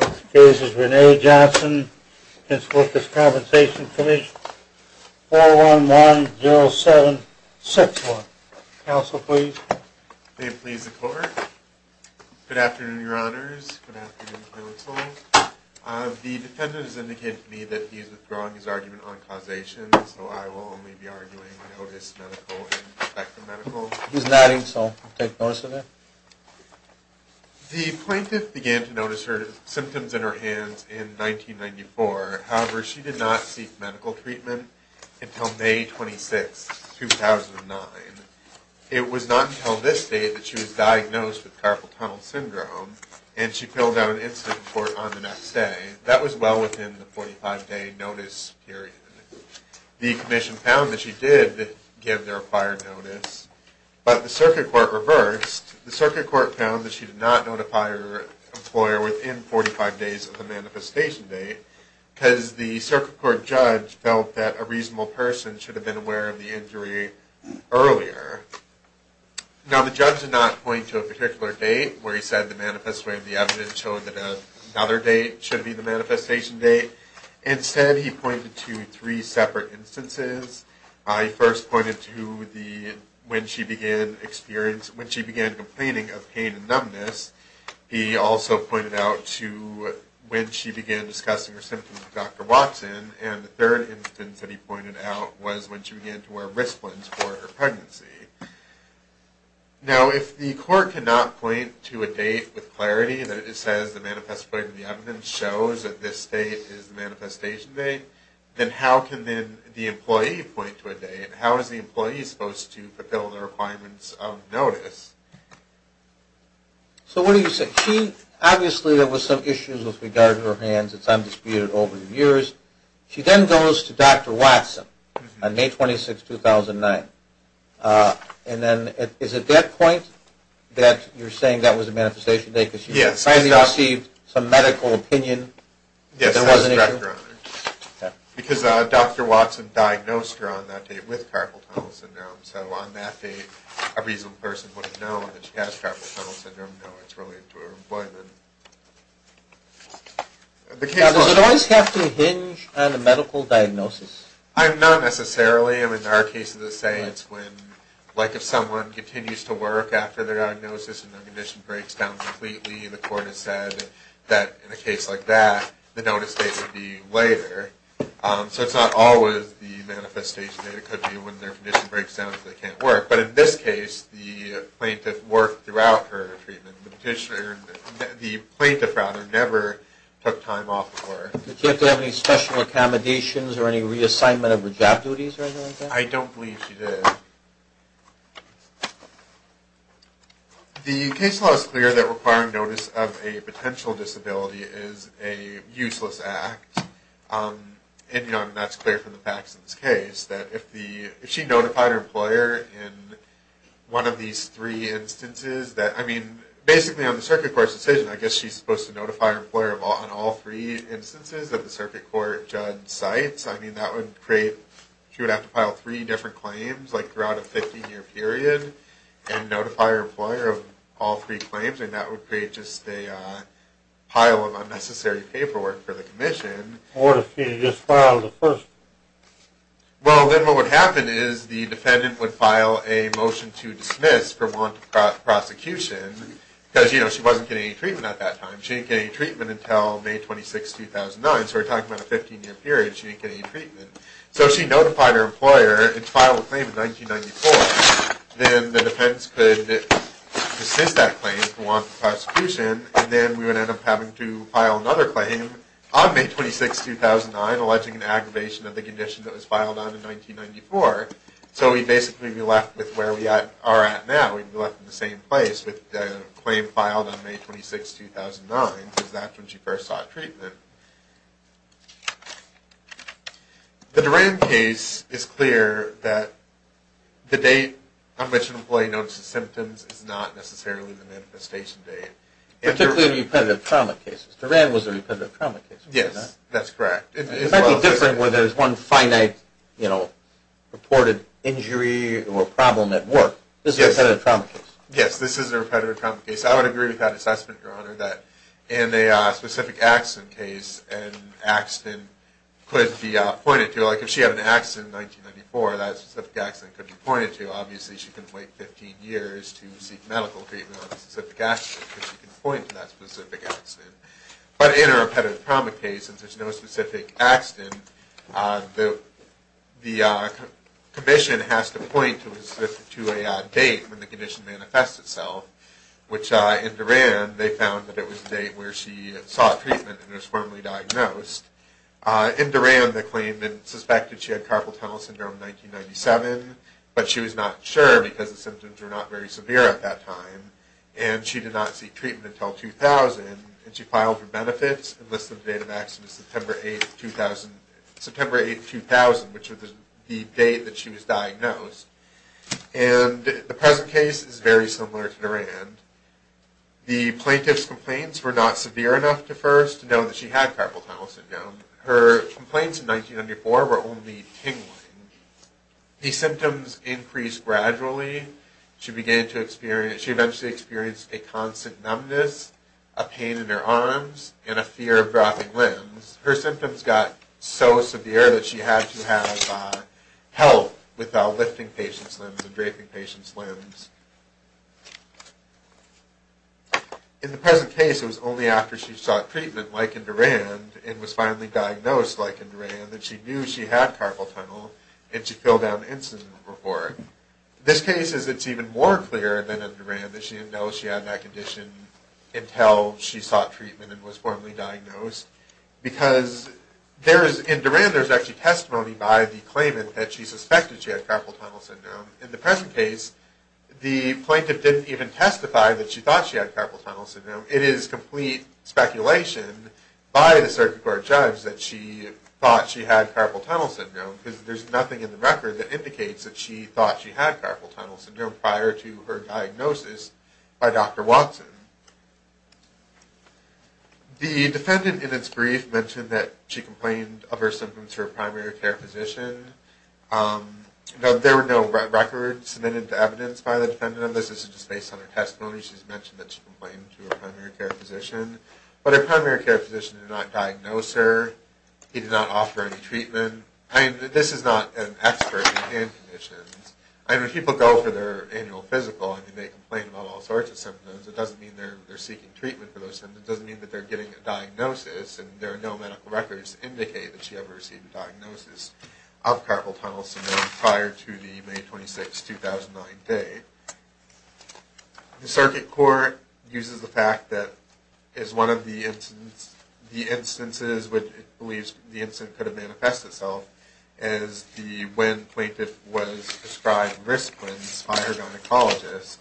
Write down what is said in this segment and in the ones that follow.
Next case is Rene Johnson v. Workers' Compensation Comm'n 411-0761. Counsel, please. May it please the court. Good afternoon, your honors. Good afternoon, counsel. The defendant has indicated to me that he is withdrawing his argument on causation, so I will only be arguing notice, medical, and respect for medical. He's nodding, so I'll take notice of that. The plaintiff began to notice symptoms in her hands in 1994. However, she did not seek medical treatment until May 26, 2009. It was not until this date that she was diagnosed with carpal tunnel syndrome, and she filled out an incident report on the next day. That was well within the 45-day notice period. The commission found that she did give their acquired notice, but the circuit court reversed. The circuit court found that she did not notify her employer within 45 days of the manifestation date, because the circuit court judge felt that a reasonable person should have been aware of the injury earlier. Now, the judge did not point to a particular date where he said the evidence showed that another date should be the manifestation date. Instead, he pointed to three separate instances. He first pointed to when she began complaining of pain and numbness. He also pointed out to when she began discussing her symptoms with Dr. Watson, and the third instance that he pointed out was when she began to wear wristbands for her pregnancy. Now, if the court cannot point to a date with clarity that it says the manifestation of the evidence shows that this date is the manifestation date, then how can the employee point to a date? How is the employee supposed to fulfill the requirements of notice? So, what do you say? Obviously, there were some issues with regard to her hands. It's undisputed over the years. She then goes to Dr. Watson on May 26, 2009. And then, is it that point that you're saying that was the manifestation date? Yes. Because she finally received some medical opinion that there was an issue? Yes. Because Dr. Watson diagnosed her on that date with carpal tunnel syndrome. So, on that date, a reasonable person would have known that she has carpal tunnel syndrome. No, it's related to her employment. Does it always have to hinge on a medical diagnosis? Not necessarily. In our case, as I say, it's when, like if someone continues to work after their diagnosis and their condition breaks down completely, and the court has said that in a case like that, the notice date would be later. So, it's not always the manifestation date. It could be when their condition breaks down and they can't work. But in this case, the plaintiff worked throughout her treatment. The plaintiff, rather, never took time off of work. Did she have to have any special accommodations or any reassignment of her job duties or anything like that? I don't believe she did. The case law is clear that requiring notice of a potential disability is a useless act. And that's clear from the facts in this case, that if she notified her employer in one of these three instances, that, I mean, basically on the circuit court's decision, I guess she's supposed to notify her employer on all three instances that the circuit court judge cites. I mean, that would create, she would have to file three different claims throughout a 15-year period and notify her employer of all three claims, and that would create just a pile of unnecessary paperwork for the commission. What if she just filed the first one? Well, then what would happen is the defendant would file a motion to dismiss for warrant of prosecution because, you know, she wasn't getting any treatment at that time. She didn't get any treatment until May 26, 2009. So, we're talking about a 15-year period. She didn't get any treatment. So, if she notified her employer and filed a claim in 1994, then the defendants could resist that claim for warrant of prosecution, and then we would end up having to file another claim on May 26, 2009, alleging an aggravation of the condition that was filed on in 1994. So, we'd basically be left with where we are at now. We'd be left in the same place with a claim filed on May 26, 2009 because that's when she first sought treatment. The Duran case is clear that the date on which an employee notices symptoms is not necessarily the manifestation date. Particularly in repetitive trauma cases. Duran was a repetitive trauma case. Yes, that's correct. It might be different where there's one finite, you know, reported injury or problem at work. This is a repetitive trauma case. Yes, this is a repetitive trauma case. I would agree with that assessment, Your Honor, that in a specific accident case, an accident could be pointed to. Like, if she had an accident in 1994, that specific accident could be pointed to. Obviously, she couldn't wait 15 years to seek medical treatment on a specific accident because she couldn't point to that specific accident. But in a repetitive trauma case, since there's no specific accident, the commission has to point to a date when the condition manifests itself, which in Duran, they found that it was the date where she sought treatment and was formally diagnosed. In Duran, the claim that it's suspected she had carpal tunnel syndrome in 1997, but she was not sure because the symptoms were not very severe at that time, and she did not seek treatment until 2000, and she filed for benefits and listed the date of accident as September 8, 2000, which was the date that she was diagnosed. And the present case is very similar to Duran. The plaintiff's complaints were not severe enough to first know that she had carpal tunnel syndrome. Her complaints in 1994 were only tingling. The symptoms increased gradually. She began to experience, she eventually experienced a constant numbness, a pain in her arms, and a fear of dropping limbs. Her symptoms got so severe that she had to have help with lifting patients' limbs and draping patients' limbs. In the present case, it was only after she sought treatment, like in Duran, and was finally diagnosed, like in Duran, that she knew she had carpal tunnel and she filled out an incident report. This case is, it's even more clear than in Duran that she didn't know she had that condition until she sought treatment and was formally diagnosed because there is, in Duran, there's actually testimony by the claimant that she suspected she had carpal tunnel syndrome. In the present case, the plaintiff didn't even testify that she thought she had carpal tunnel syndrome. It is complete speculation by the circuit court judge that she thought she had carpal tunnel syndrome because there's nothing in the record that indicates that she thought she had carpal tunnel syndrome prior to her diagnosis by Dr. Watson. The defendant in its brief mentioned that she complained of her symptoms to her primary care physician. There were no records submitted to evidence by the defendant on this. This is just based on her testimony. She's mentioned that she complained to her primary care physician, but her primary care physician did not diagnose her. He did not offer any treatment. I mean, this is not an expert in hand conditions. I mean, when people go for their annual physical and they make a complaint about all sorts of symptoms, it doesn't mean they're seeking treatment for those symptoms. It doesn't mean that they're getting a diagnosis and there are no medical records to indicate that she ever received a diagnosis of carpal tunnel syndrome prior to the May 26, 2009 date. The circuit court uses the fact that as one of the instances which it believes the incident could have manifested itself is when the plaintiff was prescribed risplins by her gynecologist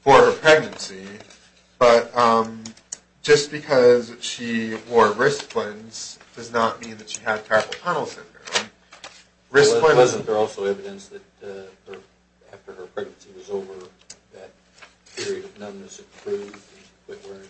for her pregnancy, but just because she wore risplins does not mean that she had carpal tunnel syndrome. Risplins are also evidence that after her pregnancy was over, that period of numbness improved, but that's just a quick word.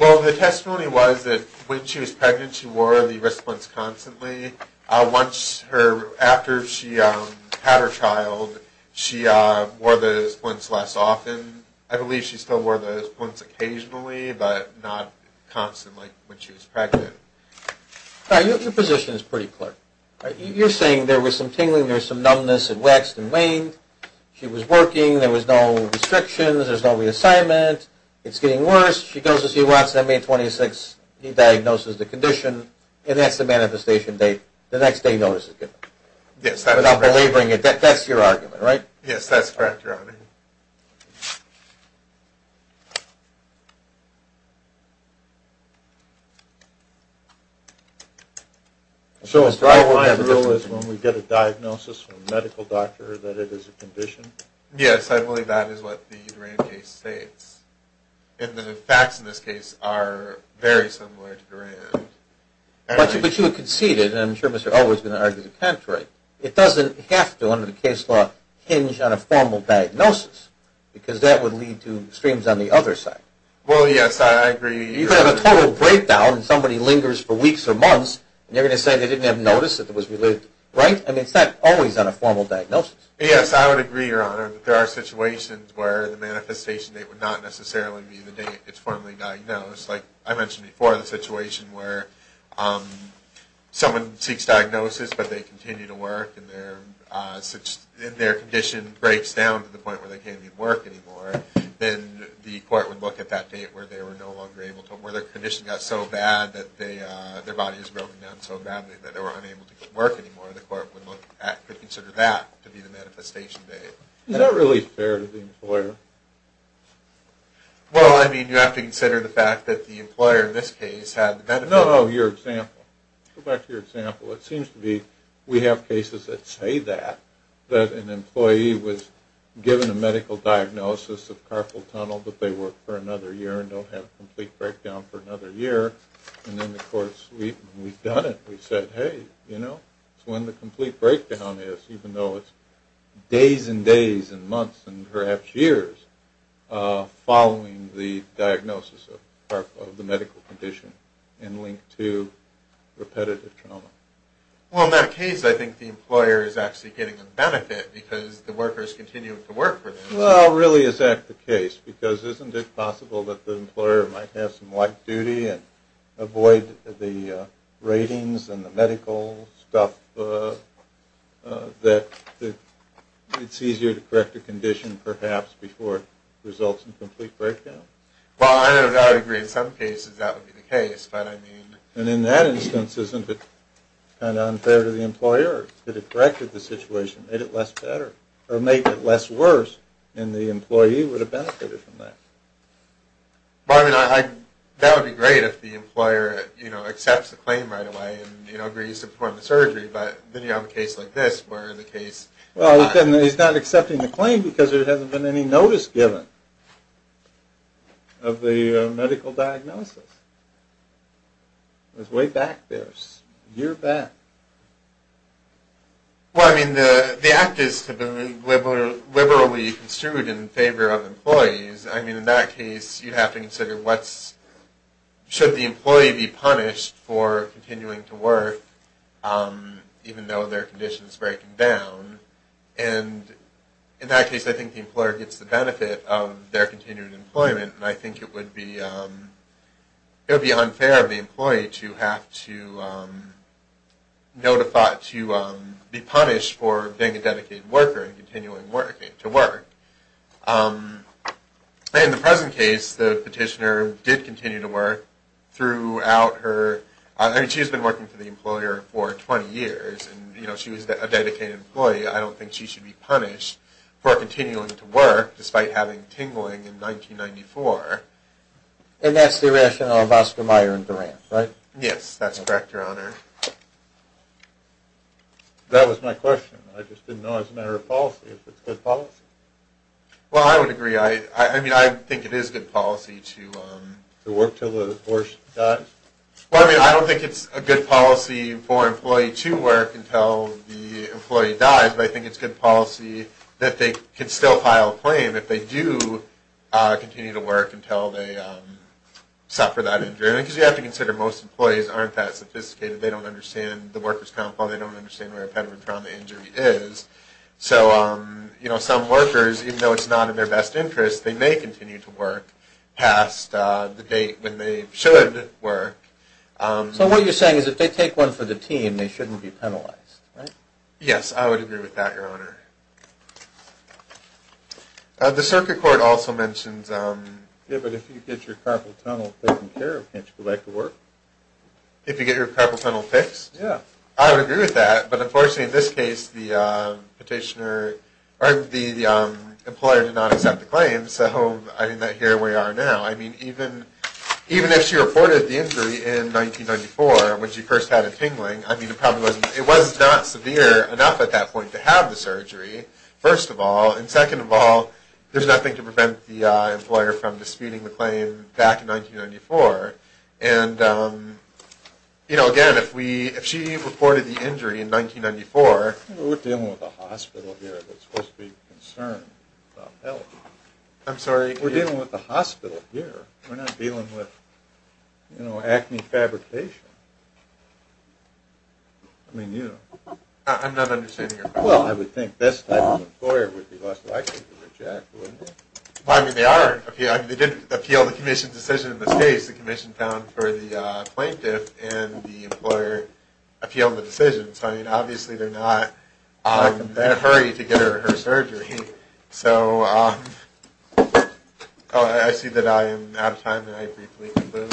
Well, the testimony was that when she was pregnant she wore the risplins constantly. After she had her child, she wore the risplins less often. I believe she still wore the risplins occasionally, but not constantly when she was pregnant. Your position is pretty clear. You're saying there was some tingling, there was some numbness, it waxed and waned, she was pregnant, she was working, there was no restrictions, there was no reassignment, it's getting worse, she goes to see Watson on May 26th, he diagnoses the condition, and that's the manifestation date the next day notice is given. Yes, that's correct. That's your argument, right? Yes, that's correct, Your Honor. So the problem I have is when we get a diagnosis from a medical doctor about a specific condition. Yes, I believe that is what the Durand case states. And the facts in this case are very similar to Durand. But you conceded, and I'm sure Mr. Elwood's going to argue the contrary, it doesn't have to, under the case law, hinge on a formal diagnosis because that would lead to extremes on the other side. Well, yes, I agree. You could have a total breakdown but I would agree, Your Honor, that there are situations where the manifestation date would not necessarily be the date it's formally diagnosed. Like I mentioned before, the situation where someone seeks diagnosis but they continue to work and their condition breaks down to the point where they can't even work anymore, then the court would look at that date where their condition got so bad that they can't work anymore. Is that really fair to the employer? Well, I mean, you have to consider the fact that the employer in this case had the benefit of... No, no, your example. Go back to your example. It seems to be we have cases that say that, that an employee was given a medical diagnosis of carpal tunnel but they work for another year and don't have a complete diagnosis of carpal tunnel for weeks and days and months and perhaps years following the diagnosis of the medical condition and linked to repetitive trauma. Well, in that case, I think the employer is actually getting a benefit because the workers continue to work for them. Well, really, is that the case because isn't it possible that the employer might have some light duty to make it easier to correct the condition perhaps before it results in a complete breakdown? Well, I would agree in some cases that would be the case. And in that instance, isn't it kind of unfair to the employer that it corrected the situation and made it less worse and the employee would have benefited from that? Well, I mean, that would be great accepting the claim because there hasn't been any notice given of the medical diagnosis. It was way back there, a year back. Well, I mean, the act is to be liberally construed in favor of employees. I mean, in that case, you have to consider should the employee be punished for continuing to work even though in that case I think the employer gets the benefit of their continued employment and I think it would be it would be unfair of the employee to have to notify to be punished for being a dedicated worker and continuing to work. In the present case, the petitioner did continue to work throughout her I mean, she's been working for the employer for 20 years and she was a dedicated employee. I don't think she should be punished for continuing to work despite having tingling in 1994. And that's the rationale of Oscar Mayer and Durant, right? Yes, that's correct, Your Honor. That was my question. I just didn't know as a matter of policy if it's good policy. Well, I would agree. I mean, I think it is good policy to work until the horse dies. I don't think it's good for an employee to work until the employee dies but I think it's good policy that they can still file a claim if they do continue to work until they suffer that injury. Because you have to consider most employees aren't that sophisticated. They don't understand the workers' compound. They don't understand where repetitive trauma injury is. So, you know, some workers even though it's not in their best interest they may continue to work but as a team, they shouldn't be penalized, right? Yes, I would agree with that, Your Honor. The circuit court also mentions... Yeah, but if you get your carpal tunnel taken care of can't you go back to work? If you get your carpal tunnel fixed? Yeah. I would agree with that but unfortunately in this case the employer did not accept the claim so I didn't hear where you are now. I mean, even if she reported the injury in 1994 it was not severe enough at that point to have the surgery first of all and second of all there's nothing to prevent the employer from disputing the claim back in 1994 and, you know, again if she reported the injury in 1994... We're dealing with a hospital here that's supposed to be concerned about health. I'm sorry? We're dealing with a hospital here. We're not dealing with I mean, you know... I'm not understanding your question. Well, I would think this type of employer would be less likely to reject, wouldn't it? Well, I mean, they are. They did appeal the commission's decision in this case. The commission found for the plaintiff and the employer appealed the decision so, I mean, obviously they're not in a hurry to get her surgery so... I see that I am out of time and I briefly conclude.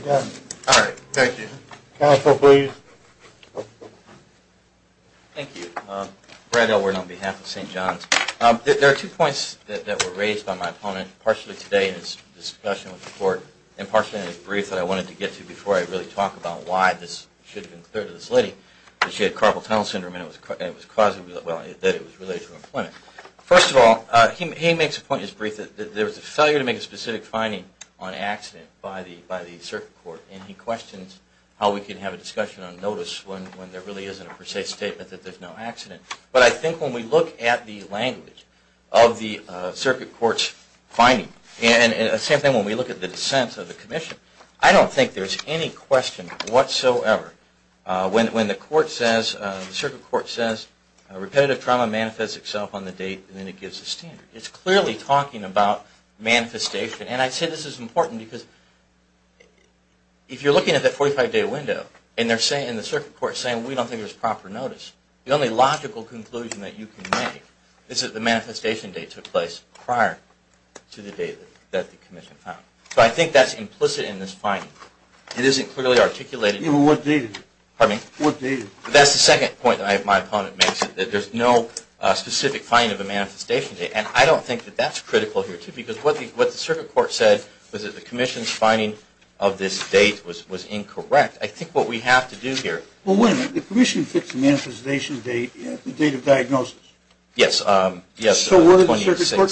Okay. All right. Thank you. Counsel, please. Thank you. Brad Elward on behalf of St. John's. There are two points that were raised by my opponent partially today in his discussion with the court and partially in his brief that I wanted to get to before I really talk about why this should have been cleared to this lady that she had carpal tunnel syndrome and that it was related to her employment. First of all, he makes a point in his brief that there was a failure of the circuit court and he questions how we can have a discussion on notice when there really isn't a per se statement that there's no accident. But I think when we look at the language of the circuit court's finding and the same thing when we look at the dissent of the commission, I don't think there's any question whatsoever when the court says, the circuit court says, repetitive trauma manifests itself on the date and then it gives a standard. It's clearly talking about manifestation and I say this is important because if you're looking at that 45-day window and the circuit court is saying we don't think there's proper notice, the only logical conclusion that you can make is that the manifestation date took place prior to the date that the commission found. So I think that's implicit in this finding. It isn't clearly articulated. That's the second point that my opponent makes that there's no specific finding of a manifestation date that was incorrect. I think what we have to do here... Well, wait a minute. The commission fixed the manifestation date at the date of diagnosis? Yes. So where did the circuit court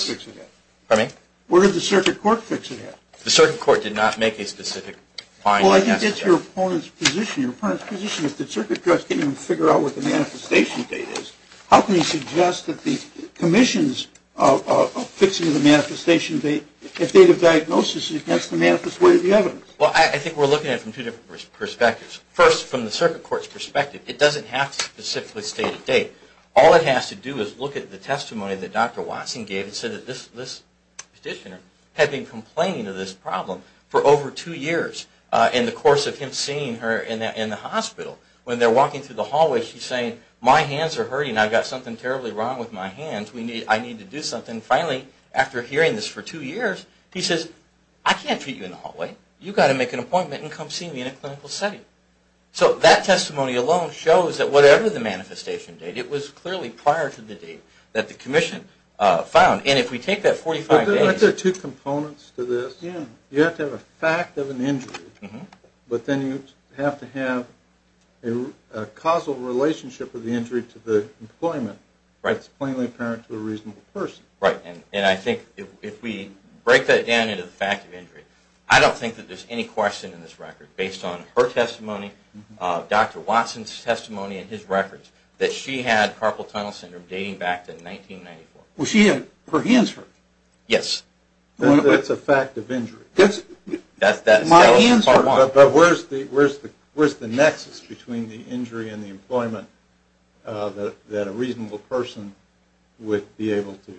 fix it at? The circuit court did not make a specific finding. Well, I think it's your opponent's position. If the circuit judge can't even figure out what the manifestation date is, how can he suggest that the commission's fixing the manifestation date when I think we're looking at it from two different perspectives. First, from the circuit court's perspective, it doesn't have to specifically state a date. All it has to do is look at the testimony that Dr. Watson gave and say that this petitioner had been complaining of this problem for over two years in the course of him seeing her in the hospital. When they're walking through the hallway she's saying, my hands are hurting, I've got something terribly wrong with my hands, I need to do something. Finally, after hearing this for two years, he says, I can't treat you in the hallway. You've got to make an appointment and come see me in a clinical setting. So that testimony alone shows that whatever the manifestation date, it was clearly prior to the date that the commission found. And if we take that 45 days... Aren't there two components to this? You have to have a fact of an injury, but then you have to have a causal relationship of the injury to the employment. It's plainly apparent to a reasonable person. Right. And I think if we break that down into the fact of injury, I don't think that there's any question in this record based on her testimony, Dr. Watson's testimony, and his records, that she had carpal tunnel syndrome dating back to 1994. Her hands hurt? Yes. That's a fact of injury. But where's the nexus that a reasonable person would be able to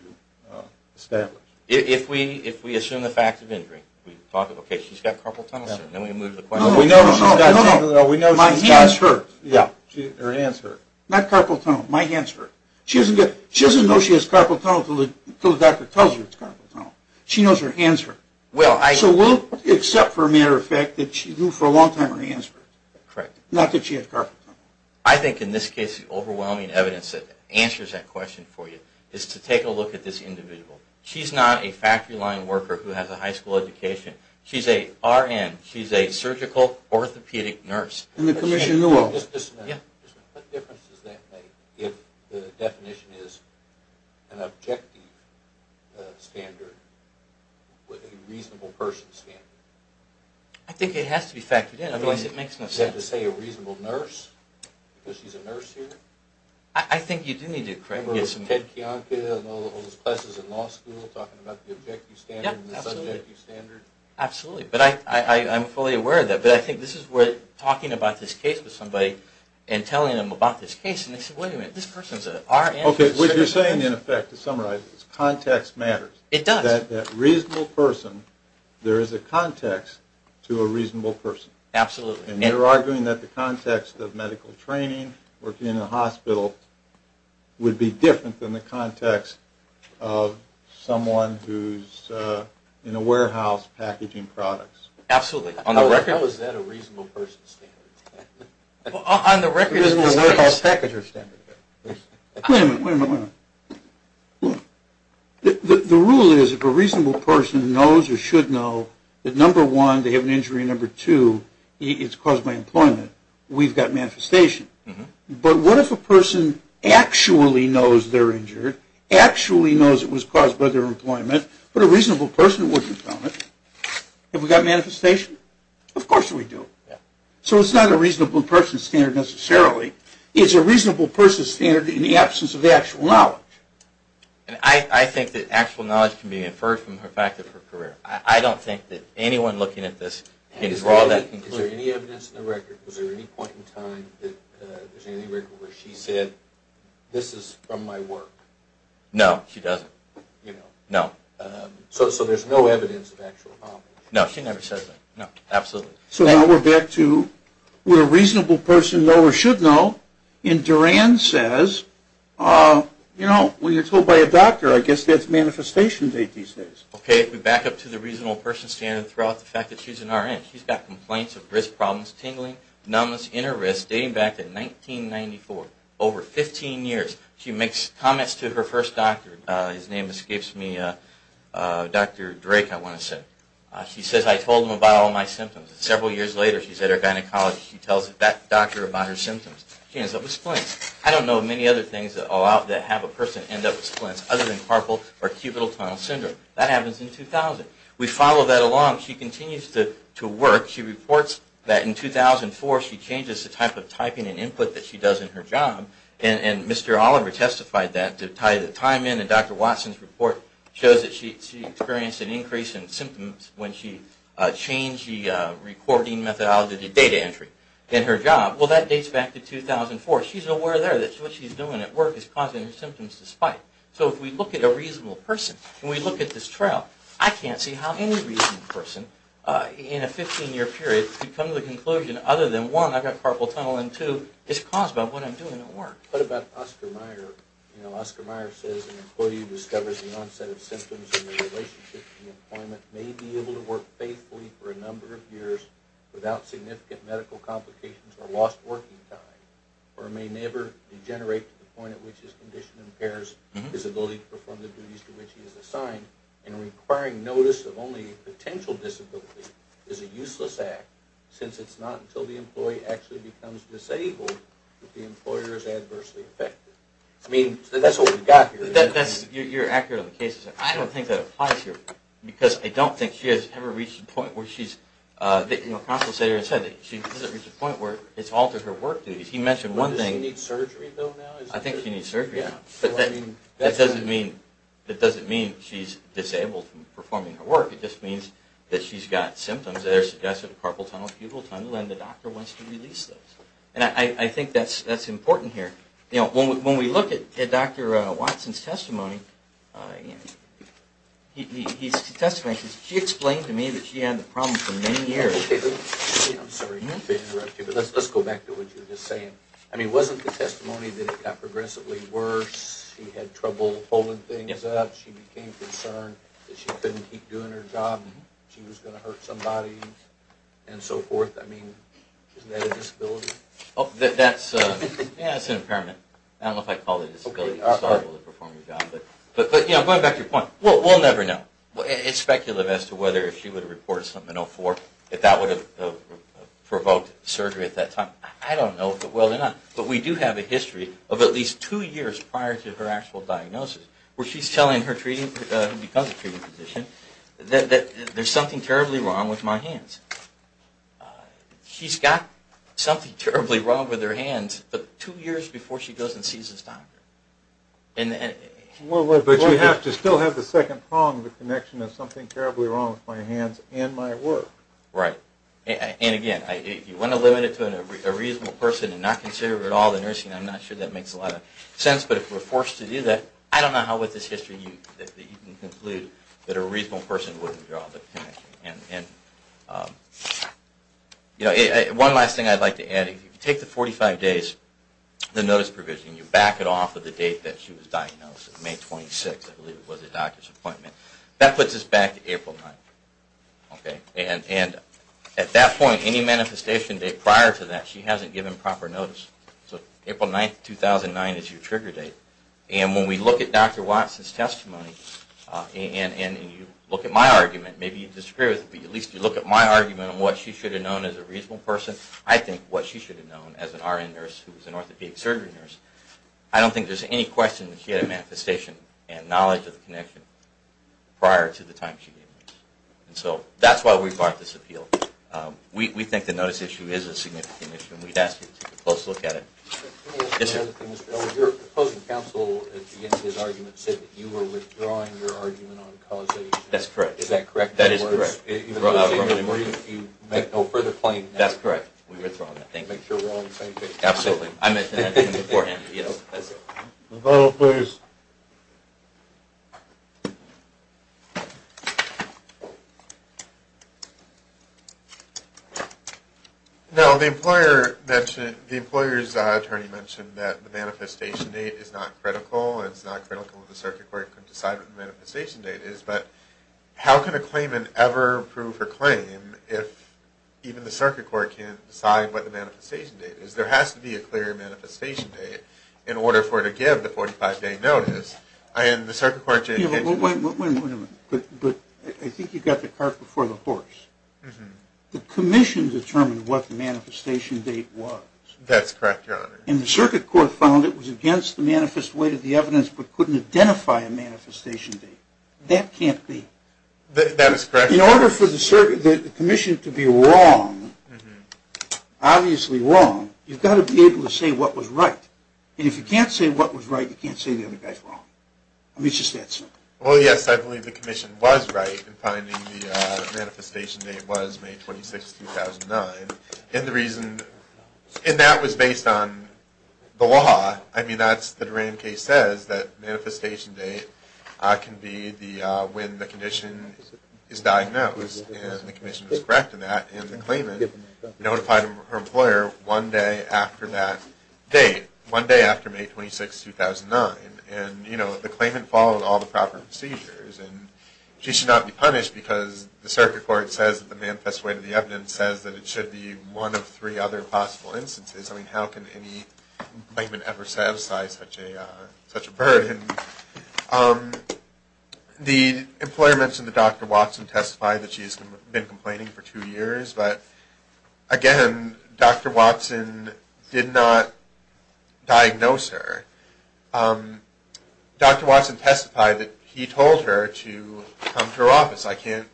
establish? If we assume the fact of injury, we thought, okay, she's got carpal tunnel syndrome. No, no, no. My hands hurt. Her hands hurt. Not carpal tunnel. My hands hurt. She doesn't know she has carpal tunnel until the doctor tells her it's carpal tunnel. She knows her hands hurt. So we'll accept for a matter of fact that she knew for a long time and that's the overwhelming evidence that answers that question for you is to take a look at this individual. She's not a factory line worker who has a high school education. She's a RN. She's a surgical orthopedic nurse. Commissioner Newell. What difference does that make if the definition is an objective standard with a reasonable person standard? I think it has to be factored in otherwise it makes no sense. Does it have to say a reasonable nurse because she's a nurse here? I think you do need to correct me. Remember with Ted Kiyonka and all those classes in law school talking about the objective standard and the subjective standard? Absolutely, but I'm fully aware of that. But I think this is where talking about this case with somebody and telling them about this case and they say, wait a minute, this person's a RN. Okay, what you're saying in effect to summarize is context matters. You're arguing that the context of medical training working in a hospital would be different than the context of someone who's in a warehouse packaging products. Absolutely. How is that a reasonable person standard? On the record, it is a warehouse packager standard. Wait a minute, wait a minute. The rule is if a reasonable person knows or should know that number one, they have an injury, and number two, it's caused by employment, we've got manifestation. But what if a person actually knows they're injured, actually knows it was caused by their employment, but a reasonable person wouldn't have done it? Have we got manifestation? Of course we do. So it's not a reasonable person standard necessarily. It's a reasonable person standard in the absence of actual knowledge. And I think that actual knowledge can be inferred from the fact that her career, I don't think that anyone looking at this can draw that conclusion. Is there any evidence in the record, was there any point in time where she said this is from my work? No, she doesn't. So there's no evidence of actual knowledge? No, she never said that. So now we're back to where a reasonable person know or should know, and Duran says, you know, when you're told by a doctor, I guess that's manifestation these days. Okay, if we back up to the reasonable person standard throughout the fact that she's an RN, she's got complaints of risk problems, tingling, numbness, inner risk, dating back to 1994, over 15 years. She makes comments to her first doctor, his name escapes me, Dr. Drake, I want to say. She says, I told him about all my symptoms. Several years later, she's at her gynecologist. She tells that doctor about her symptoms. She ends up with splints. I don't know of many other things that have a person end up with splints other than carpal or cubital tunnel syndrome. That happens in 2000. We follow that along. She continues to work. She reports that in 2004 she changes the type of typing and input that she does in her job. Mr. Oliver testified that to tie the time in. Dr. Watson's report shows that she experienced an increase in symptoms when she changed the recording methodology to data entry in her job. That dates back to 2004. She's aware there that what she's doing at work is causing her symptoms to spike. If we look at a reasonable person and we look at this trial, I can't see how any reasonable person in a 15-year period could come to the conclusion other than one, I've got carpal tunnel, and two, it's caused by what I'm doing at work. What about Oscar Meyer? Oscar Meyer says an employee discovers the onset of symptoms in their relationship to employment, may be able to work faithfully for a number of years without significant medical complications or lost working time, or may never degenerate to the point at which his condition impairs his ability to perform the duties to which he is assigned since it's not until the employee actually becomes disabled that the employer is adversely affected. I mean, that's what we've got here. You're accurate on the cases. I don't think that applies here because I don't think she has ever reached the point where she's, the compensator said she hasn't reached the point where it's altered her work duties. He mentioned one thing. Does she need surgery though now? I think she needs surgery now. That doesn't mean she's disabled from performing her work. She's disabled from performing her functional pupil tunnel and the doctor wants to release those. And I think that's important here. When we look at Dr. Watson's testimony, his testimony, she explained to me that she had the problem for many years. I'm sorry to interrupt you, but let's go back to what you were just saying. I mean, wasn't the testimony that it got progressively worse, she had trouble holding things up, she became concerned that she couldn't keep doing her job and so on and so forth. I mean, isn't that a disability? That's an impairment. I don't know if I'd call it a disability. But going back to your point, we'll never know. It's speculative as to whether if she would have reported something in 2004 if that would have provoked surgery at that time. I don't know. But we do have a history of at least two years prior to her actual diagnosis where she's telling her treating, who becomes a treating physician, she's got something terribly wrong with her hands, but two years before she goes and sees this doctor. But you have to still have the second prong of the connection of something terribly wrong with my hands and my work. Right. And again, if you want to limit it to a reasonable person and not consider at all the nursing, I'm not sure that makes a lot of sense, but if we're forced to do that, you know, one last thing I'd like to add, if you take the 45 days, the notice provision, you back it off of the date that she was diagnosed, May 26, I believe it was a doctor's appointment, that puts us back to April 9. And at that point, any manifestation date prior to that, she hasn't given proper notice. So April 9, 2009 is your trigger date. And when we look at Dr. Watson's testimony, and you look at my argument, as a reasonable person, I think what she should have known as an RN nurse who was an orthopedic surgery nurse, I don't think there's any question that she had a manifestation and knowledge of the connection prior to the time she gave notice. And so that's why we fought this appeal. We think the notice issue is a significant issue, and we'd ask you to take a close look at it. Your opposing counsel at the beginning of his argument said that you were withdrawing your argument on causation. That's correct. We were withdrawing that. Make sure we're all on the same page. Absolutely. Vote, please. Now, the employer mentioned, the employer's attorney mentioned that the manifestation date is not critical, it's not critical that the circuit court can decide what the manifestation date is, but how can a claimant ever say that the circuit court can't decide what the manifestation date is? There has to be a clear manifestation date in order for her to give the 45-day notice, and the circuit court... Wait a minute. I think you got the cart before the horse. The commission determined what the manifestation date was. That's correct, Your Honor. And the circuit court found it was against the manifest weight of the evidence but couldn't identify a manifestation date. That can't be. That is correct. Obviously wrong. You've got to be able to say what was right. And if you can't say what was right, you can't say the other guy's wrong. I mean, it's just that simple. Well, yes, I believe the commission was right in finding the manifestation date was May 26, 2009. And the reason... And that was based on the law. I mean, that's... the Durand case says that manifestation date can be when the condition is diagnosed. And the commission was correct in that. It notified her employer one day after that date. One day after May 26, 2009. And, you know, the claimant followed all the proper procedures. And she should not be punished because the circuit court says that the manifest weight of the evidence says that it should be one of three other possible instances. I mean, how can any claimant ever satisfy such a burden? The employer mentioned that Dr. Watson testified that she's been complaining for two years. Again, Dr. Watson did not diagnose her. Dr. Watson testified that he told her to come to her office. I can't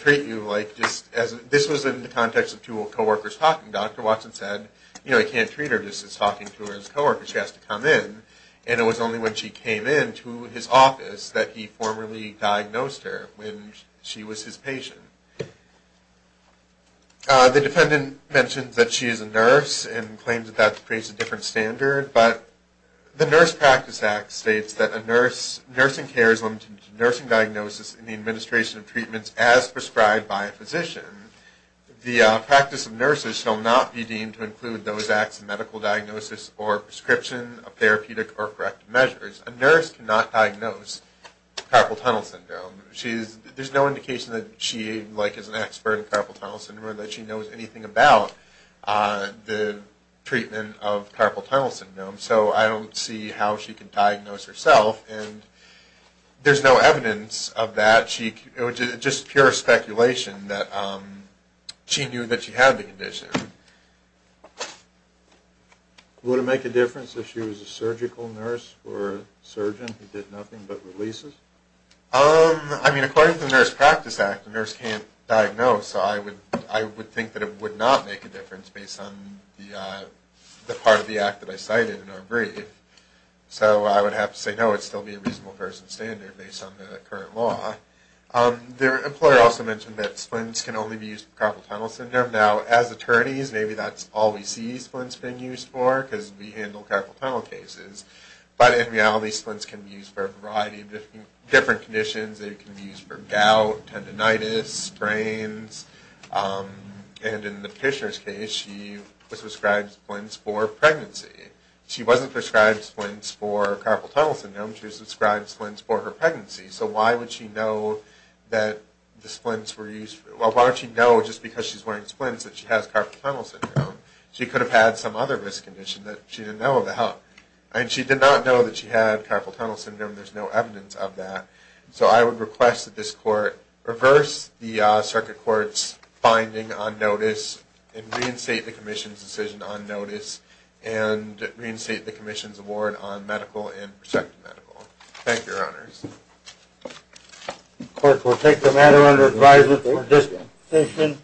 treat you like... This was in the context of two co-workers talking. Dr. Watson said, you know, he can't treat her just as talking to her as a co-worker. She has to come in. And it was only when she came into his office that he formally diagnosed her when she was his patient. The defendant mentioned that she is a nurse and claims that that creates a different standard. But the Nurse Practice Act states that a nurse... Nursing care is limited to nursing diagnosis and the administration of treatments as prescribed by a physician. The practice of nurses shall not be deemed to include those acts of medical diagnosis or prescription of therapeutic or corrective measures. A nurse cannot diagnose carpal tunnel syndrome. There's no indication that she is an expert in carpal tunnel syndrome or that she knows anything about the treatment of carpal tunnel syndrome. So I don't see how she can diagnose herself. And there's no evidence of that. It was just pure speculation that she knew that she had the condition. Would it make a difference if she was a surgical nurse or a surgeon who did nothing but releases? I mean, according to the Nurse Practice Act, a nurse can't diagnose. So I would think that it would not make a difference based on the part of the act that I cited in our brief. So I would have to say no. It would still be a reasonable person standard based on the current law. The employer also mentioned that splints can only be used for carpal tunnel syndrome. Now, as attorneys, maybe that's all we see splints being used for because we handle carpal tunnel cases. They can be used for gout, tendinitis, sprains. And in the petitioner's case, she was prescribed splints for pregnancy. She wasn't prescribed splints for carpal tunnel syndrome. She was prescribed splints for her pregnancy. So why would she know that the splints were used for, well, why would she know just because she's wearing splints that she has carpal tunnel syndrome? She could have had some other risk condition that she didn't know about. And she did not know that she had carpal tunnel syndrome. There's no evidence of that. So I would request that this court reverse the circuit court's finding on notice and reinstate the commission's decision on notice and reinstate the commission's award on medical and prospective medical. Thank you, Your Honors. Of course, we'll take the matter under advisement for this petition.